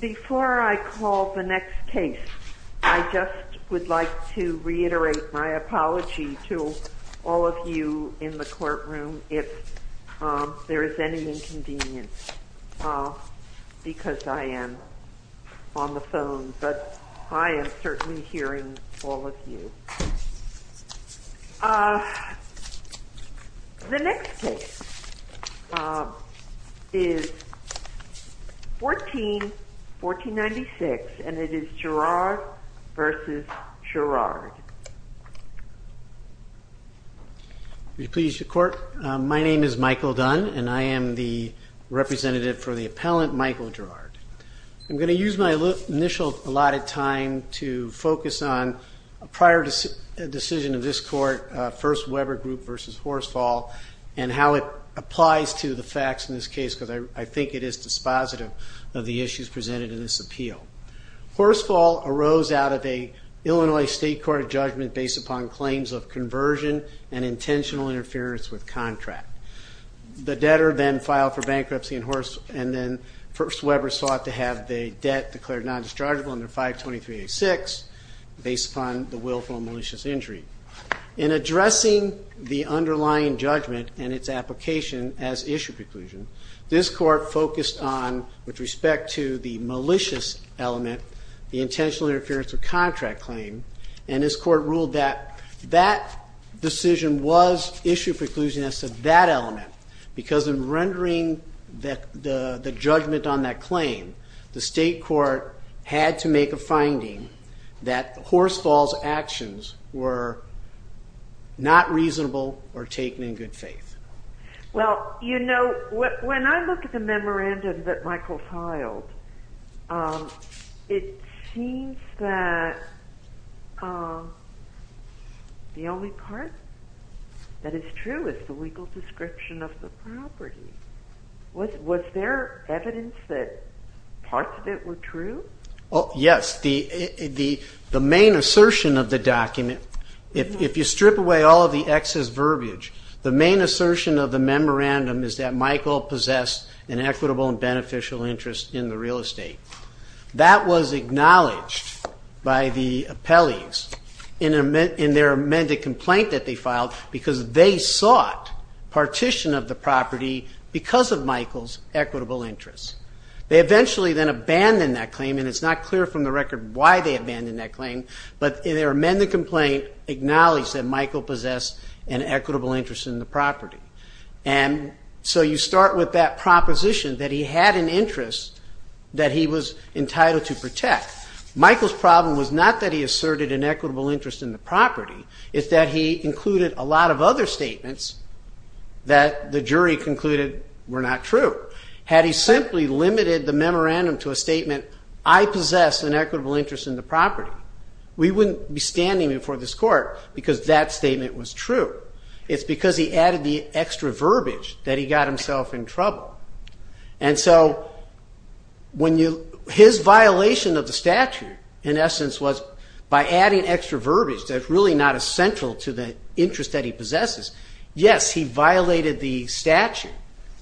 Before I call the next case, I just would like to reiterate my apology to all of you in the courtroom if there is any inconvenience, because I am on the phone, but I am certainly hearing all of you. The next case is 14-1496, and it is Gerard v. Gerard. My name is Michael Dunn, and I am the representative for the appellant, Michael Gerard. I'm going to use my initial allotted time to focus on a prior decision of this Court, First Weber Group v. Horsfall, and how it applies to the facts in this case, because I think it is dispositive of the issues presented in this appeal. Horsfall arose out of an Illinois State Court judgment based upon claims of conversion and intentional interference with contract. The debtor then filed for bankruptcy, and then First Weber sought to have the debt declared non-dischargeable under 523-86 based upon the willful and malicious injury. In addressing the underlying judgment and its application as issue preclusion, this Court focused on, with respect to the malicious element, the intentional interference with contract claim, and this Court ruled that that decision was issue preclusion as to that element, because in rendering the judgment on that claim, the State Court had to make a finding that Horsfall's actions were not reasonable or taken in good faith. Well, you know, when I look at the memorandum that Michael filed, it seems that the only part that is true is the legal description of the property. Was there evidence that parts of it were true? Yes. The main assertion of the document, if you strip away all of the excess verbiage, the main assertion of the memorandum is that Michael possessed an equitable and beneficial interest in the real estate. That was acknowledged by the appellees in their amended complaint that they filed, because they sought partition of the property because of Michael's equitable interest. They eventually then abandoned that claim, and it's not clear from the record why they abandoned that claim, but in their amended complaint, acknowledged that Michael possessed an equitable interest in the property. And so you start with that proposition that he had an interest that he was entitled to protect. Michael's problem was not that he asserted an equitable interest in the property, it's that he included a lot of other statements that the jury concluded were not true. Had he simply limited the memorandum to a statement, I possess an equitable interest in the property, we wouldn't be standing before this court because that statement was true. It's because he added the extra verbiage that he got himself in trouble. And so his violation of the statute, in essence, was by adding extra verbiage that's really not essential to the interest that he possesses. Yes, he violated the statute,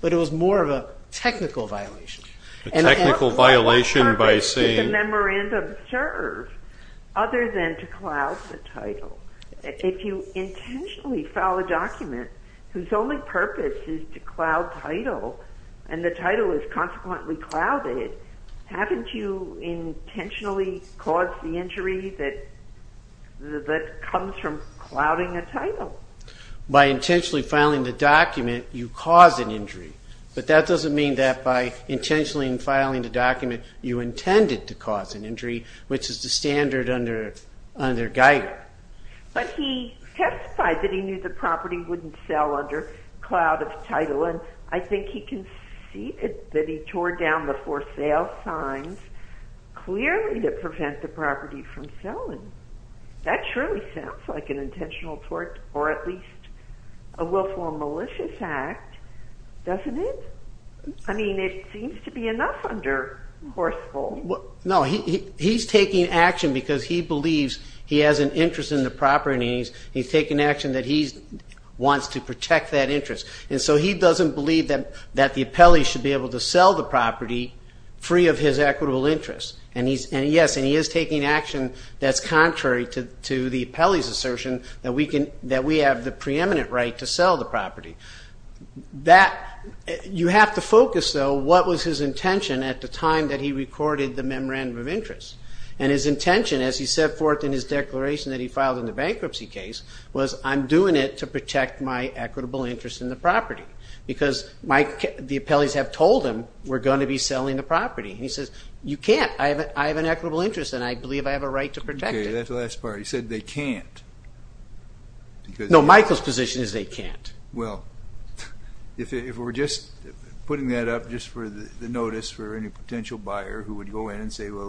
but it was more of a technical violation. What purpose did the memorandum serve other than to cloud the title? If you intentionally file a document whose only purpose is to cloud title, and the title is consequently clouded, haven't you intentionally caused the injury that comes from clouding a title? By intentionally filing the document, you cause an injury. But that doesn't mean that by intentionally filing the document, you intended to cause an injury, which is the standard under Geiger. But he testified that he knew the property wouldn't sell under cloud of title, and I think he conceded that he tore down the for sale signs clearly to prevent the property from selling. That surely sounds like an intentional tort, or at least a willful or malicious act, doesn't it? I mean, it seems to be enough under Horsfall. No, he's taking action because he believes he has an interest in the property, and he's taking action that he wants to protect that interest. And so he doesn't believe that the appellee should be able to sell the property free of his equitable interest. And yes, he is taking action that's contrary to the appellee's assertion that we have the preeminent right to sell the property. You have to focus, though, what was his intention at the time that he recorded the memorandum of interest. And his intention, as he set forth in his declaration that he filed in the bankruptcy case, was I'm doing it to protect my equitable interest in the property. Because the appellees have told him we're going to be selling the property. And he says, you can't. I have an equitable interest, and I believe I have a right to protect it. Okay, that's the last part. He said they can't. No, Michael's position is they can't. Well, if we're just putting that up just for the notice for any potential buyer who would go in and say, well,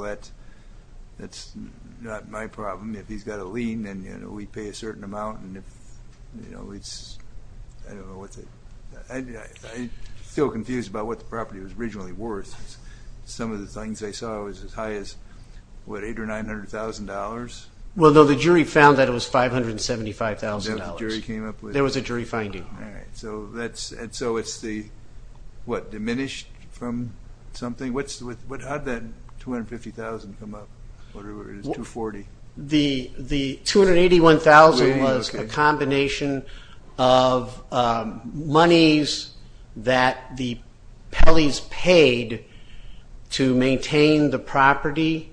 that's not my problem. If he's got a lien, then we pay a certain amount. I feel confused about what the property was originally worth. Some of the things I saw was as high as, what, $800,000 or $900,000? Well, no, the jury found that it was $575,000. The jury came up with that? There was a jury finding. All right. And so it's the, what, diminished from something? Or is it $240,000? The $281,000 was a combination of monies that the Pellies paid to maintain the property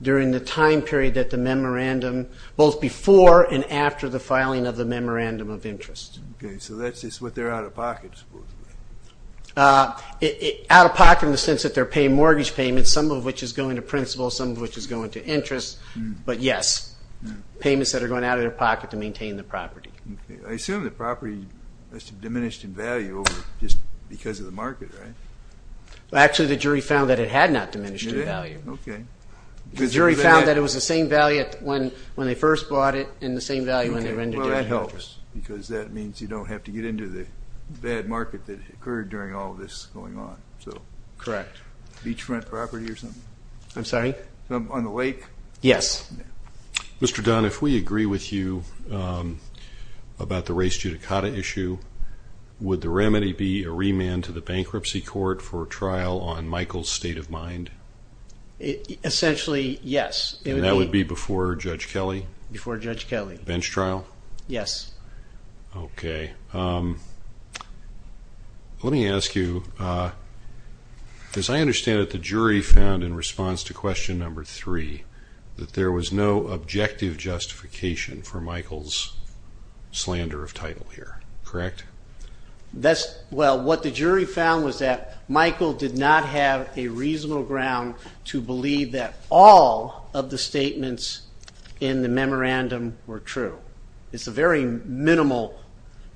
during the time period that the memorandum, both before and after the filing of the memorandum of interest. Okay, so that's just what they're out of pocket, supposedly. Out of pocket in the sense that they're paying mortgage payments, some of which is going to principal, some of which is going to interest. But, yes, payments that are going out of their pocket to maintain the property. Okay. I assume the property must have diminished in value just because of the market, right? Well, actually, the jury found that it had not diminished in value. It did? Okay. The jury found that it was the same value when they first bought it and the same value when they rendered it in interest. Because that means you don't have to get into the bad market that occurred during all of this going on. Correct. Beachfront property or something? I'm sorry? On the lake? Yes. Mr. Dunn, if we agree with you about the race judicata issue, would the remedy be a remand to the bankruptcy court for a trial on Michael's state of mind? Essentially, yes. And that would be before Judge Kelly? Before Judge Kelly. Bench trial? Yes. Okay. Let me ask you, as I understand it, the jury found in response to question number three that there was no objective justification for Michael's slander of title here. Correct? Well, what the jury found was that Michael did not have a reasonable ground to believe that all of the statements in the memorandum were true. It's a very minimal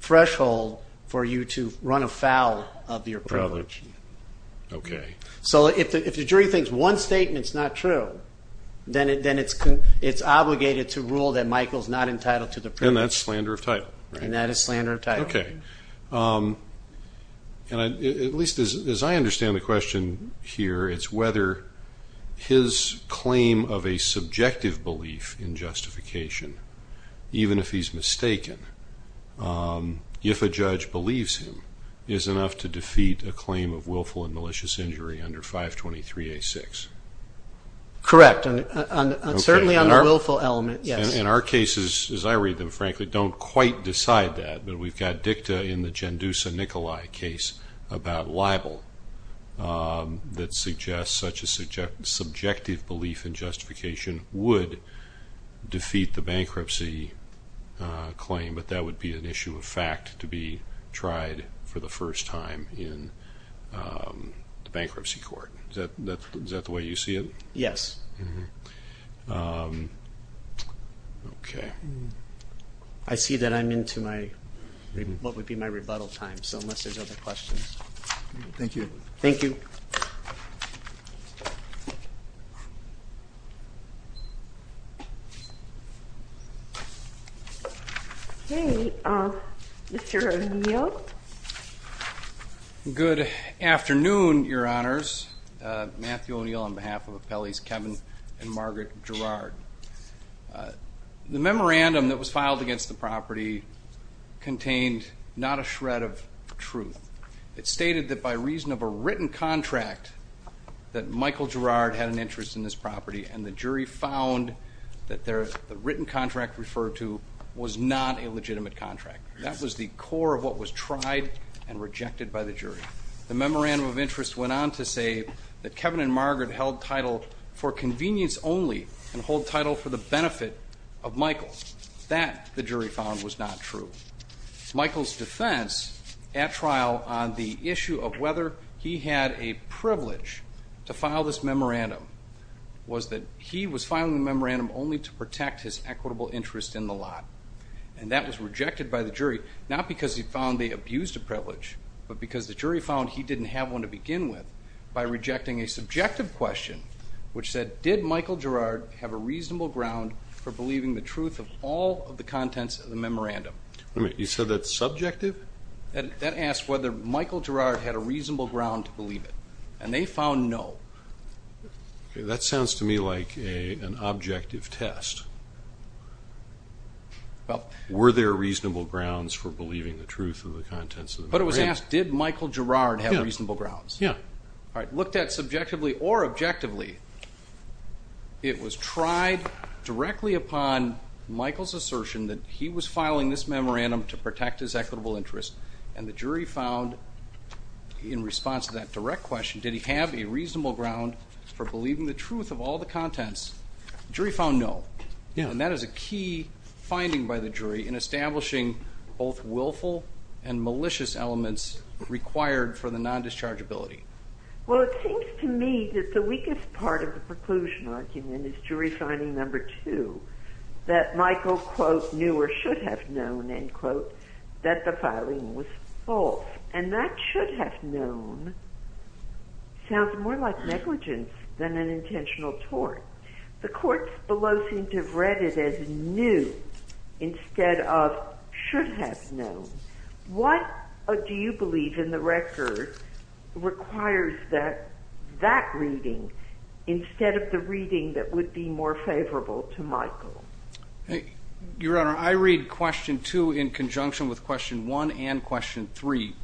threshold for you to run afoul of your privilege. Okay. So if the jury thinks one statement's not true, then it's obligated to rule that Michael's not entitled to the privilege. And that's slander of title. And that is slander of title. Okay. At least as I understand the question here, it's whether his claim of a subjective belief in justification, even if he's mistaken, if a judge believes him, is enough to defeat a claim of willful and malicious injury under 523A6. Correct. Certainly on the willful element, yes. And our cases, as I read them, frankly, don't quite decide that. But we've got dicta in the Gendusa-Nicolai case about libel that suggests such a subjective belief in justification would defeat the bankruptcy claim. But that would be an issue of fact to be tried for the first time in the bankruptcy court. Is that the way you see it? Yes. Okay. I see that I'm into my, what would be my rebuttal time, so unless there's other questions. Thank you. Thank you. Okay. Mr. O'Neill. Good afternoon, Your Honors. Matthew O'Neill on behalf of Appellees Kevin and Margaret Gerrard. The memorandum that was filed against the property contained not a shred of truth. It stated that by reason of a written contract that Michael Gerrard had an interest in this property, and the jury found that the written contract referred to was not a legitimate contract. That was the core of what was tried and rejected by the jury. The memorandum of interest went on to say that Kevin and Margaret held title for convenience only and hold title for the benefit of Michael. That, the jury found, was not true. Michael's defense at trial on the issue of whether he had a privilege to file this memorandum was that he was filing the memorandum only to protect his equitable interest in the lot. And that was rejected by the jury, not because he found they abused a privilege, but because the jury found he didn't have one to begin with by rejecting a subjective question which said, did Michael Gerrard have a reasonable ground for believing the truth of all of the contents of the memorandum? Wait a minute. You said that's subjective? That asks whether Michael Gerrard had a reasonable ground to believe it. And they found no. Okay, that sounds to me like an objective test. Were there reasonable grounds for believing the truth of the contents of the memorandum? But it was asked, did Michael Gerrard have reasonable grounds? Yeah. All right, looked at subjectively or objectively, it was tried directly upon Michael's assertion that he was filing this memorandum to protect his equitable interest, and the jury found, in response to that direct question, did he have a reasonable ground for believing the truth of all the contents? The jury found no. And that is a key finding by the jury in establishing both willful and malicious elements required for the nondischargeability. Well, it seems to me that the weakest part of the preclusion argument is jury finding number two, that Michael, quote, knew or should have known, end quote, that the filing was false. And that should have known sounds more like negligence than an intentional tort. The courts below seem to have read it as knew instead of should have known. What do you believe in the record requires that that reading instead of the reading that would be more favorable to Michael? Your Honor, I read question two in conjunction with question one and question three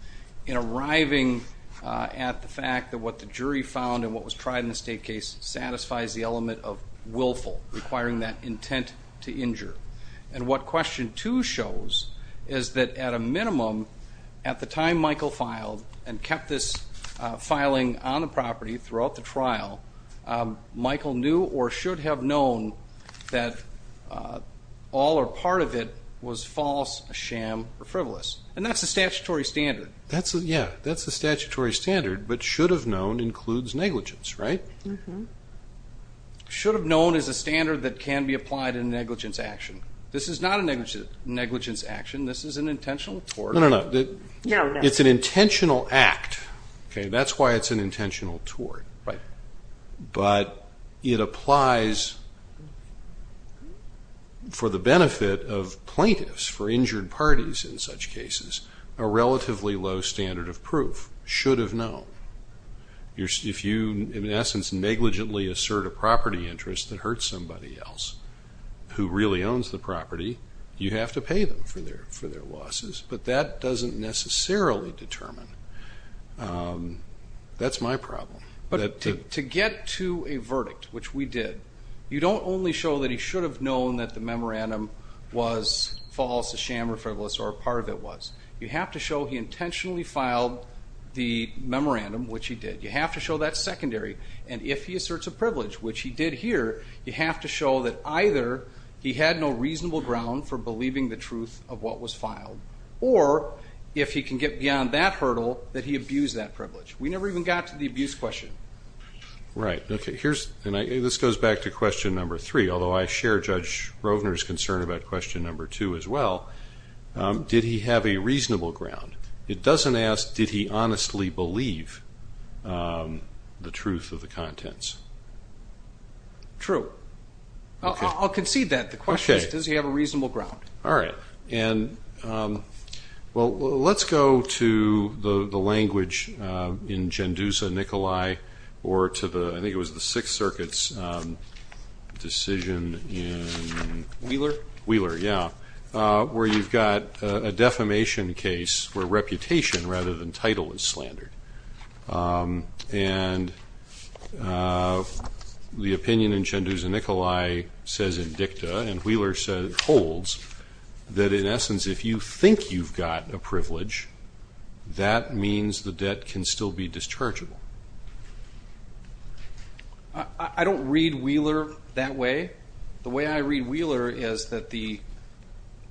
in arriving at the fact that what the jury found and what was tried in the state case satisfies the element of willful, requiring that intent to injure. And what question two shows is that, at a minimum, at the time Michael filed and kept this filing on the property throughout the trial, Michael knew or should have known that all or part of it was false, a sham, or frivolous. And that's the statutory standard. Yeah, that's the statutory standard. But should have known includes negligence, right? Should have known is a standard that can be applied in negligence action. This is not a negligence action. This is an intentional tort. No, no, no. It's an intentional act. That's why it's an intentional tort. Right. But it applies for the benefit of plaintiffs, for injured parties in such cases, a relatively low standard of proof, should have known. If you, in essence, negligently assert a property interest that hurts somebody else who really owns the property, you have to pay them for their losses. But that doesn't necessarily determine. That's my problem. But to get to a verdict, which we did, you don't only show that he should have known that the memorandum was false, a sham, or frivolous, or a part of it was. You have to show he intentionally filed the memorandum, which he did. You have to show that's secondary. And if he asserts a privilege, which he did here, you have to show that either he had no reasonable ground for believing the truth of what was filed, or if he can get beyond that hurdle, that he abused that privilege. We never even got to the abuse question. Right. This goes back to question number three, although I share Judge Rovner's concern about question number two as well. Did he have a reasonable ground? It doesn't ask, did he honestly believe the truth of the contents? True. I'll concede that. The question is, does he have a reasonable ground? All right. And, well, let's go to the language in Gendouza, Nikolai, or to the, I think it was the Sixth Circuit's decision in? Wheeler? Wheeler, yeah, where you've got a defamation case where reputation rather than title is slandered. And the opinion in Gendouza, Nikolai, says in dicta, and Wheeler holds that in essence if you think you've got a privilege, that means the debt can still be dischargeable. I don't read Wheeler that way. The way I read Wheeler is that the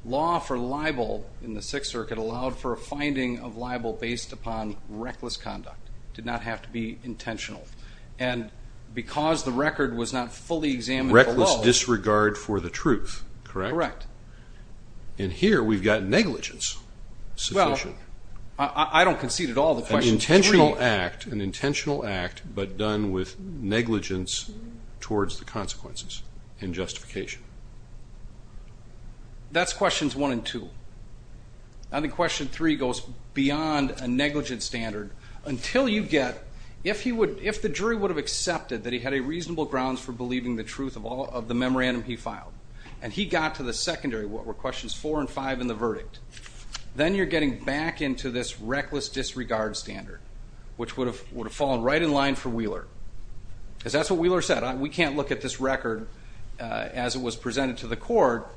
law for libel in the Sixth Circuit allowed for a finding of libel based upon reckless conduct. It did not have to be intentional. And because the record was not fully examined below. Reckless disregard for the truth, correct? Correct. And here we've got negligence. Well, I don't concede at all. An intentional act, but done with negligence towards the consequences and justification. That's questions one and two. I think question three goes beyond a negligence standard until you get, if the jury would have accepted that he had a reasonable grounds for believing the truth of the memorandum he filed, and he got to the secondary, what were questions four and five in the verdict, then you're getting back into this reckless disregard standard, which would have fallen right in line for Wheeler. Because that's what Wheeler said, we can't look at this record as it was presented to the court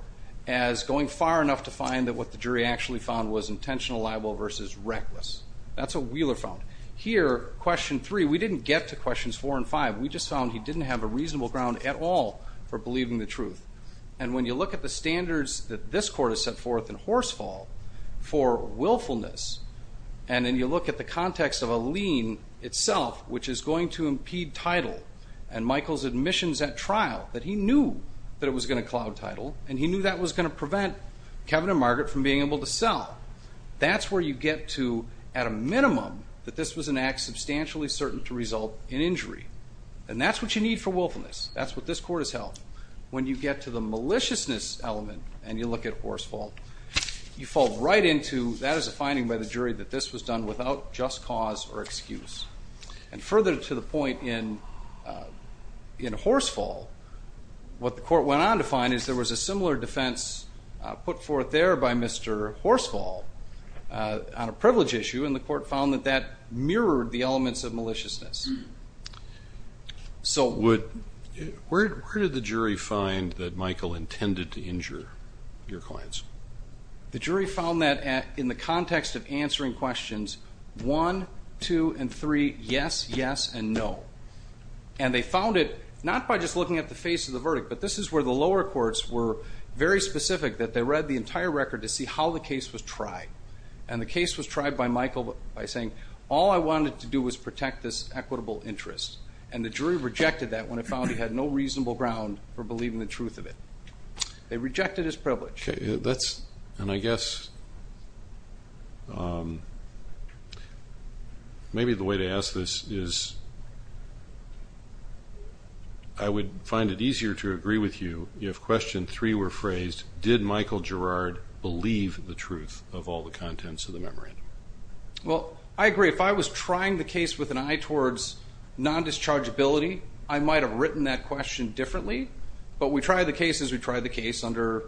as going far enough to find that what the jury actually found was intentional libel versus reckless. That's what Wheeler found. Here, question three, we didn't get to questions four and five. We just found he didn't have a reasonable ground at all for believing the truth. And when you look at the standards that this court has set forth in Horsefall for willfulness, and then you look at the context of a lien itself, which is going to impede title, and Michael's admissions at trial, that he knew that it was going to cloud title, and he knew that was going to prevent Kevin and Margaret from being able to sell. That's where you get to, at a minimum, that this was an act substantially certain to result in injury. And that's what you need for willfulness. That's what this court has held. When you get to the maliciousness element and you look at Horsefall, you fall right into that is a finding by the jury that this was done without just cause or excuse. And further to the point in Horsefall, what the court went on to find is there was a similar defense put forth there by Mr. Horsefall on a privilege issue, and the court found that that mirrored the elements of maliciousness. So where did the jury find that Michael intended to injure your clients? The jury found that in the context of answering questions one, two, and three, yes, yes, and no. And they found it not by just looking at the face of the verdict, but this is where the lower courts were very specific that they read the entire record to see how the case was tried. And the case was tried by Michael by saying, all I wanted to do was protect this equitable interest. And the jury rejected that when it found he had no reasonable ground for believing the truth of it. They rejected his privilege. And I guess maybe the way to ask this is I would find it easier to agree with you if question three were phrased, did Michael Gerard believe the truth of all the contents of the memorandum? Well, I agree. If I was trying the case with an eye towards non-dischargeability, I might have written that question differently. But we tried the case as we tried the case under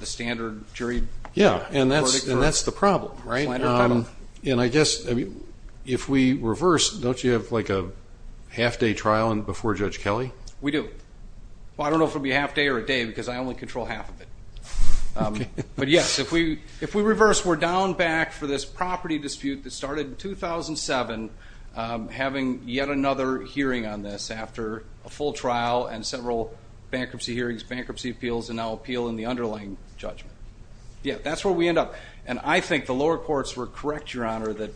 the standard jury verdict. Yeah, and that's the problem, right? And I guess if we reverse, don't you have like a half-day trial before Judge Kelly? We do. Well, I don't know if it will be a half-day or a day because I only control half of it. But, yes, if we reverse, we're down back for this property dispute that started in 2007, having yet another hearing on this after a full trial and several bankruptcy hearings, bankruptcy appeals, and now appeal in the underlying judgment. Yeah, that's where we end up. And I think the lower courts were correct, Your Honor, that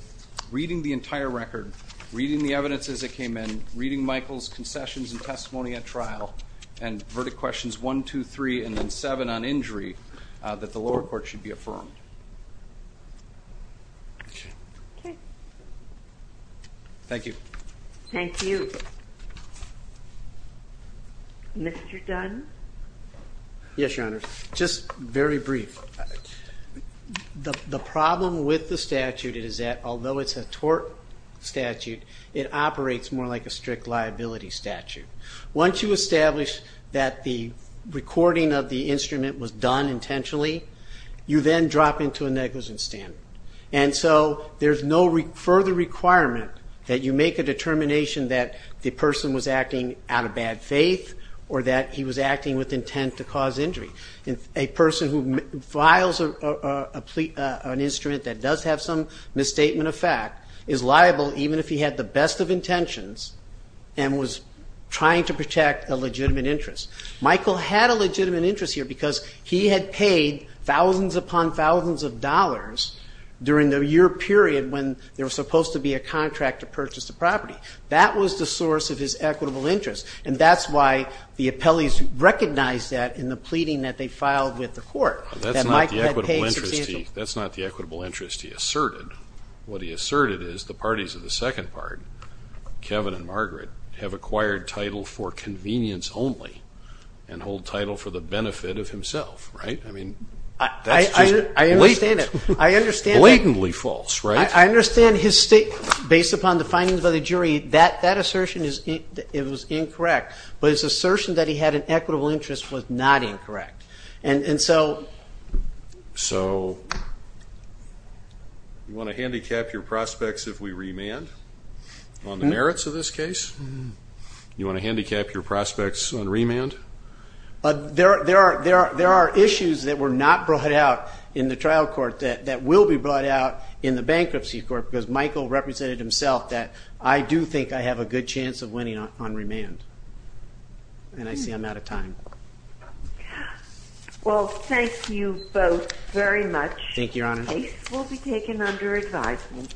reading the entire record, reading the evidence as it came in, reading Michael's concessions and testimony at trial, and verdict questions 1, 2, 3, and then 7 on injury, that the lower court should be affirmed. Thank you. Thank you. Mr. Dunn? Yes, Your Honor. Just very brief. The problem with the statute is that although it's a tort statute, it operates more like a strict liability statute. Once you establish that the recording of the instrument was done intentionally, you then drop into a negligence stand. And so there's no further requirement that you make a determination that the person was acting out of bad faith or that he was acting with intent to cause injury. A person who files an instrument that does have some misstatement of fact is liable, even if he had the best of intentions and was trying to protect a legitimate interest. Michael had a legitimate interest here because he had paid thousands upon thousands of dollars during the year period when there was supposed to be a contract to purchase the property. That was the source of his equitable interest. And that's why the appellees recognized that in the pleading that they filed with the court, that Michael had paid substantial. That's not the equitable interest he asserted. What he asserted is the parties of the second part, Kevin and Margaret, have acquired title for convenience only and hold title for the benefit of himself, right? I mean, that's just blatantly false, right? I understand his state, based upon the findings of the jury, that assertion is incorrect. But his assertion that he had an equitable interest was not incorrect. And so you want to handicap your prospects if we remand on the merits of this case? You want to handicap your prospects on remand? There are issues that were not brought out in the trial court that will be brought out in the bankruptcy court because Michael represented himself that I do think I have a good chance of winning on remand. And I see I'm out of time. Well, thank you both very much. Thank you, Your Honor. The case will be taken under advisement.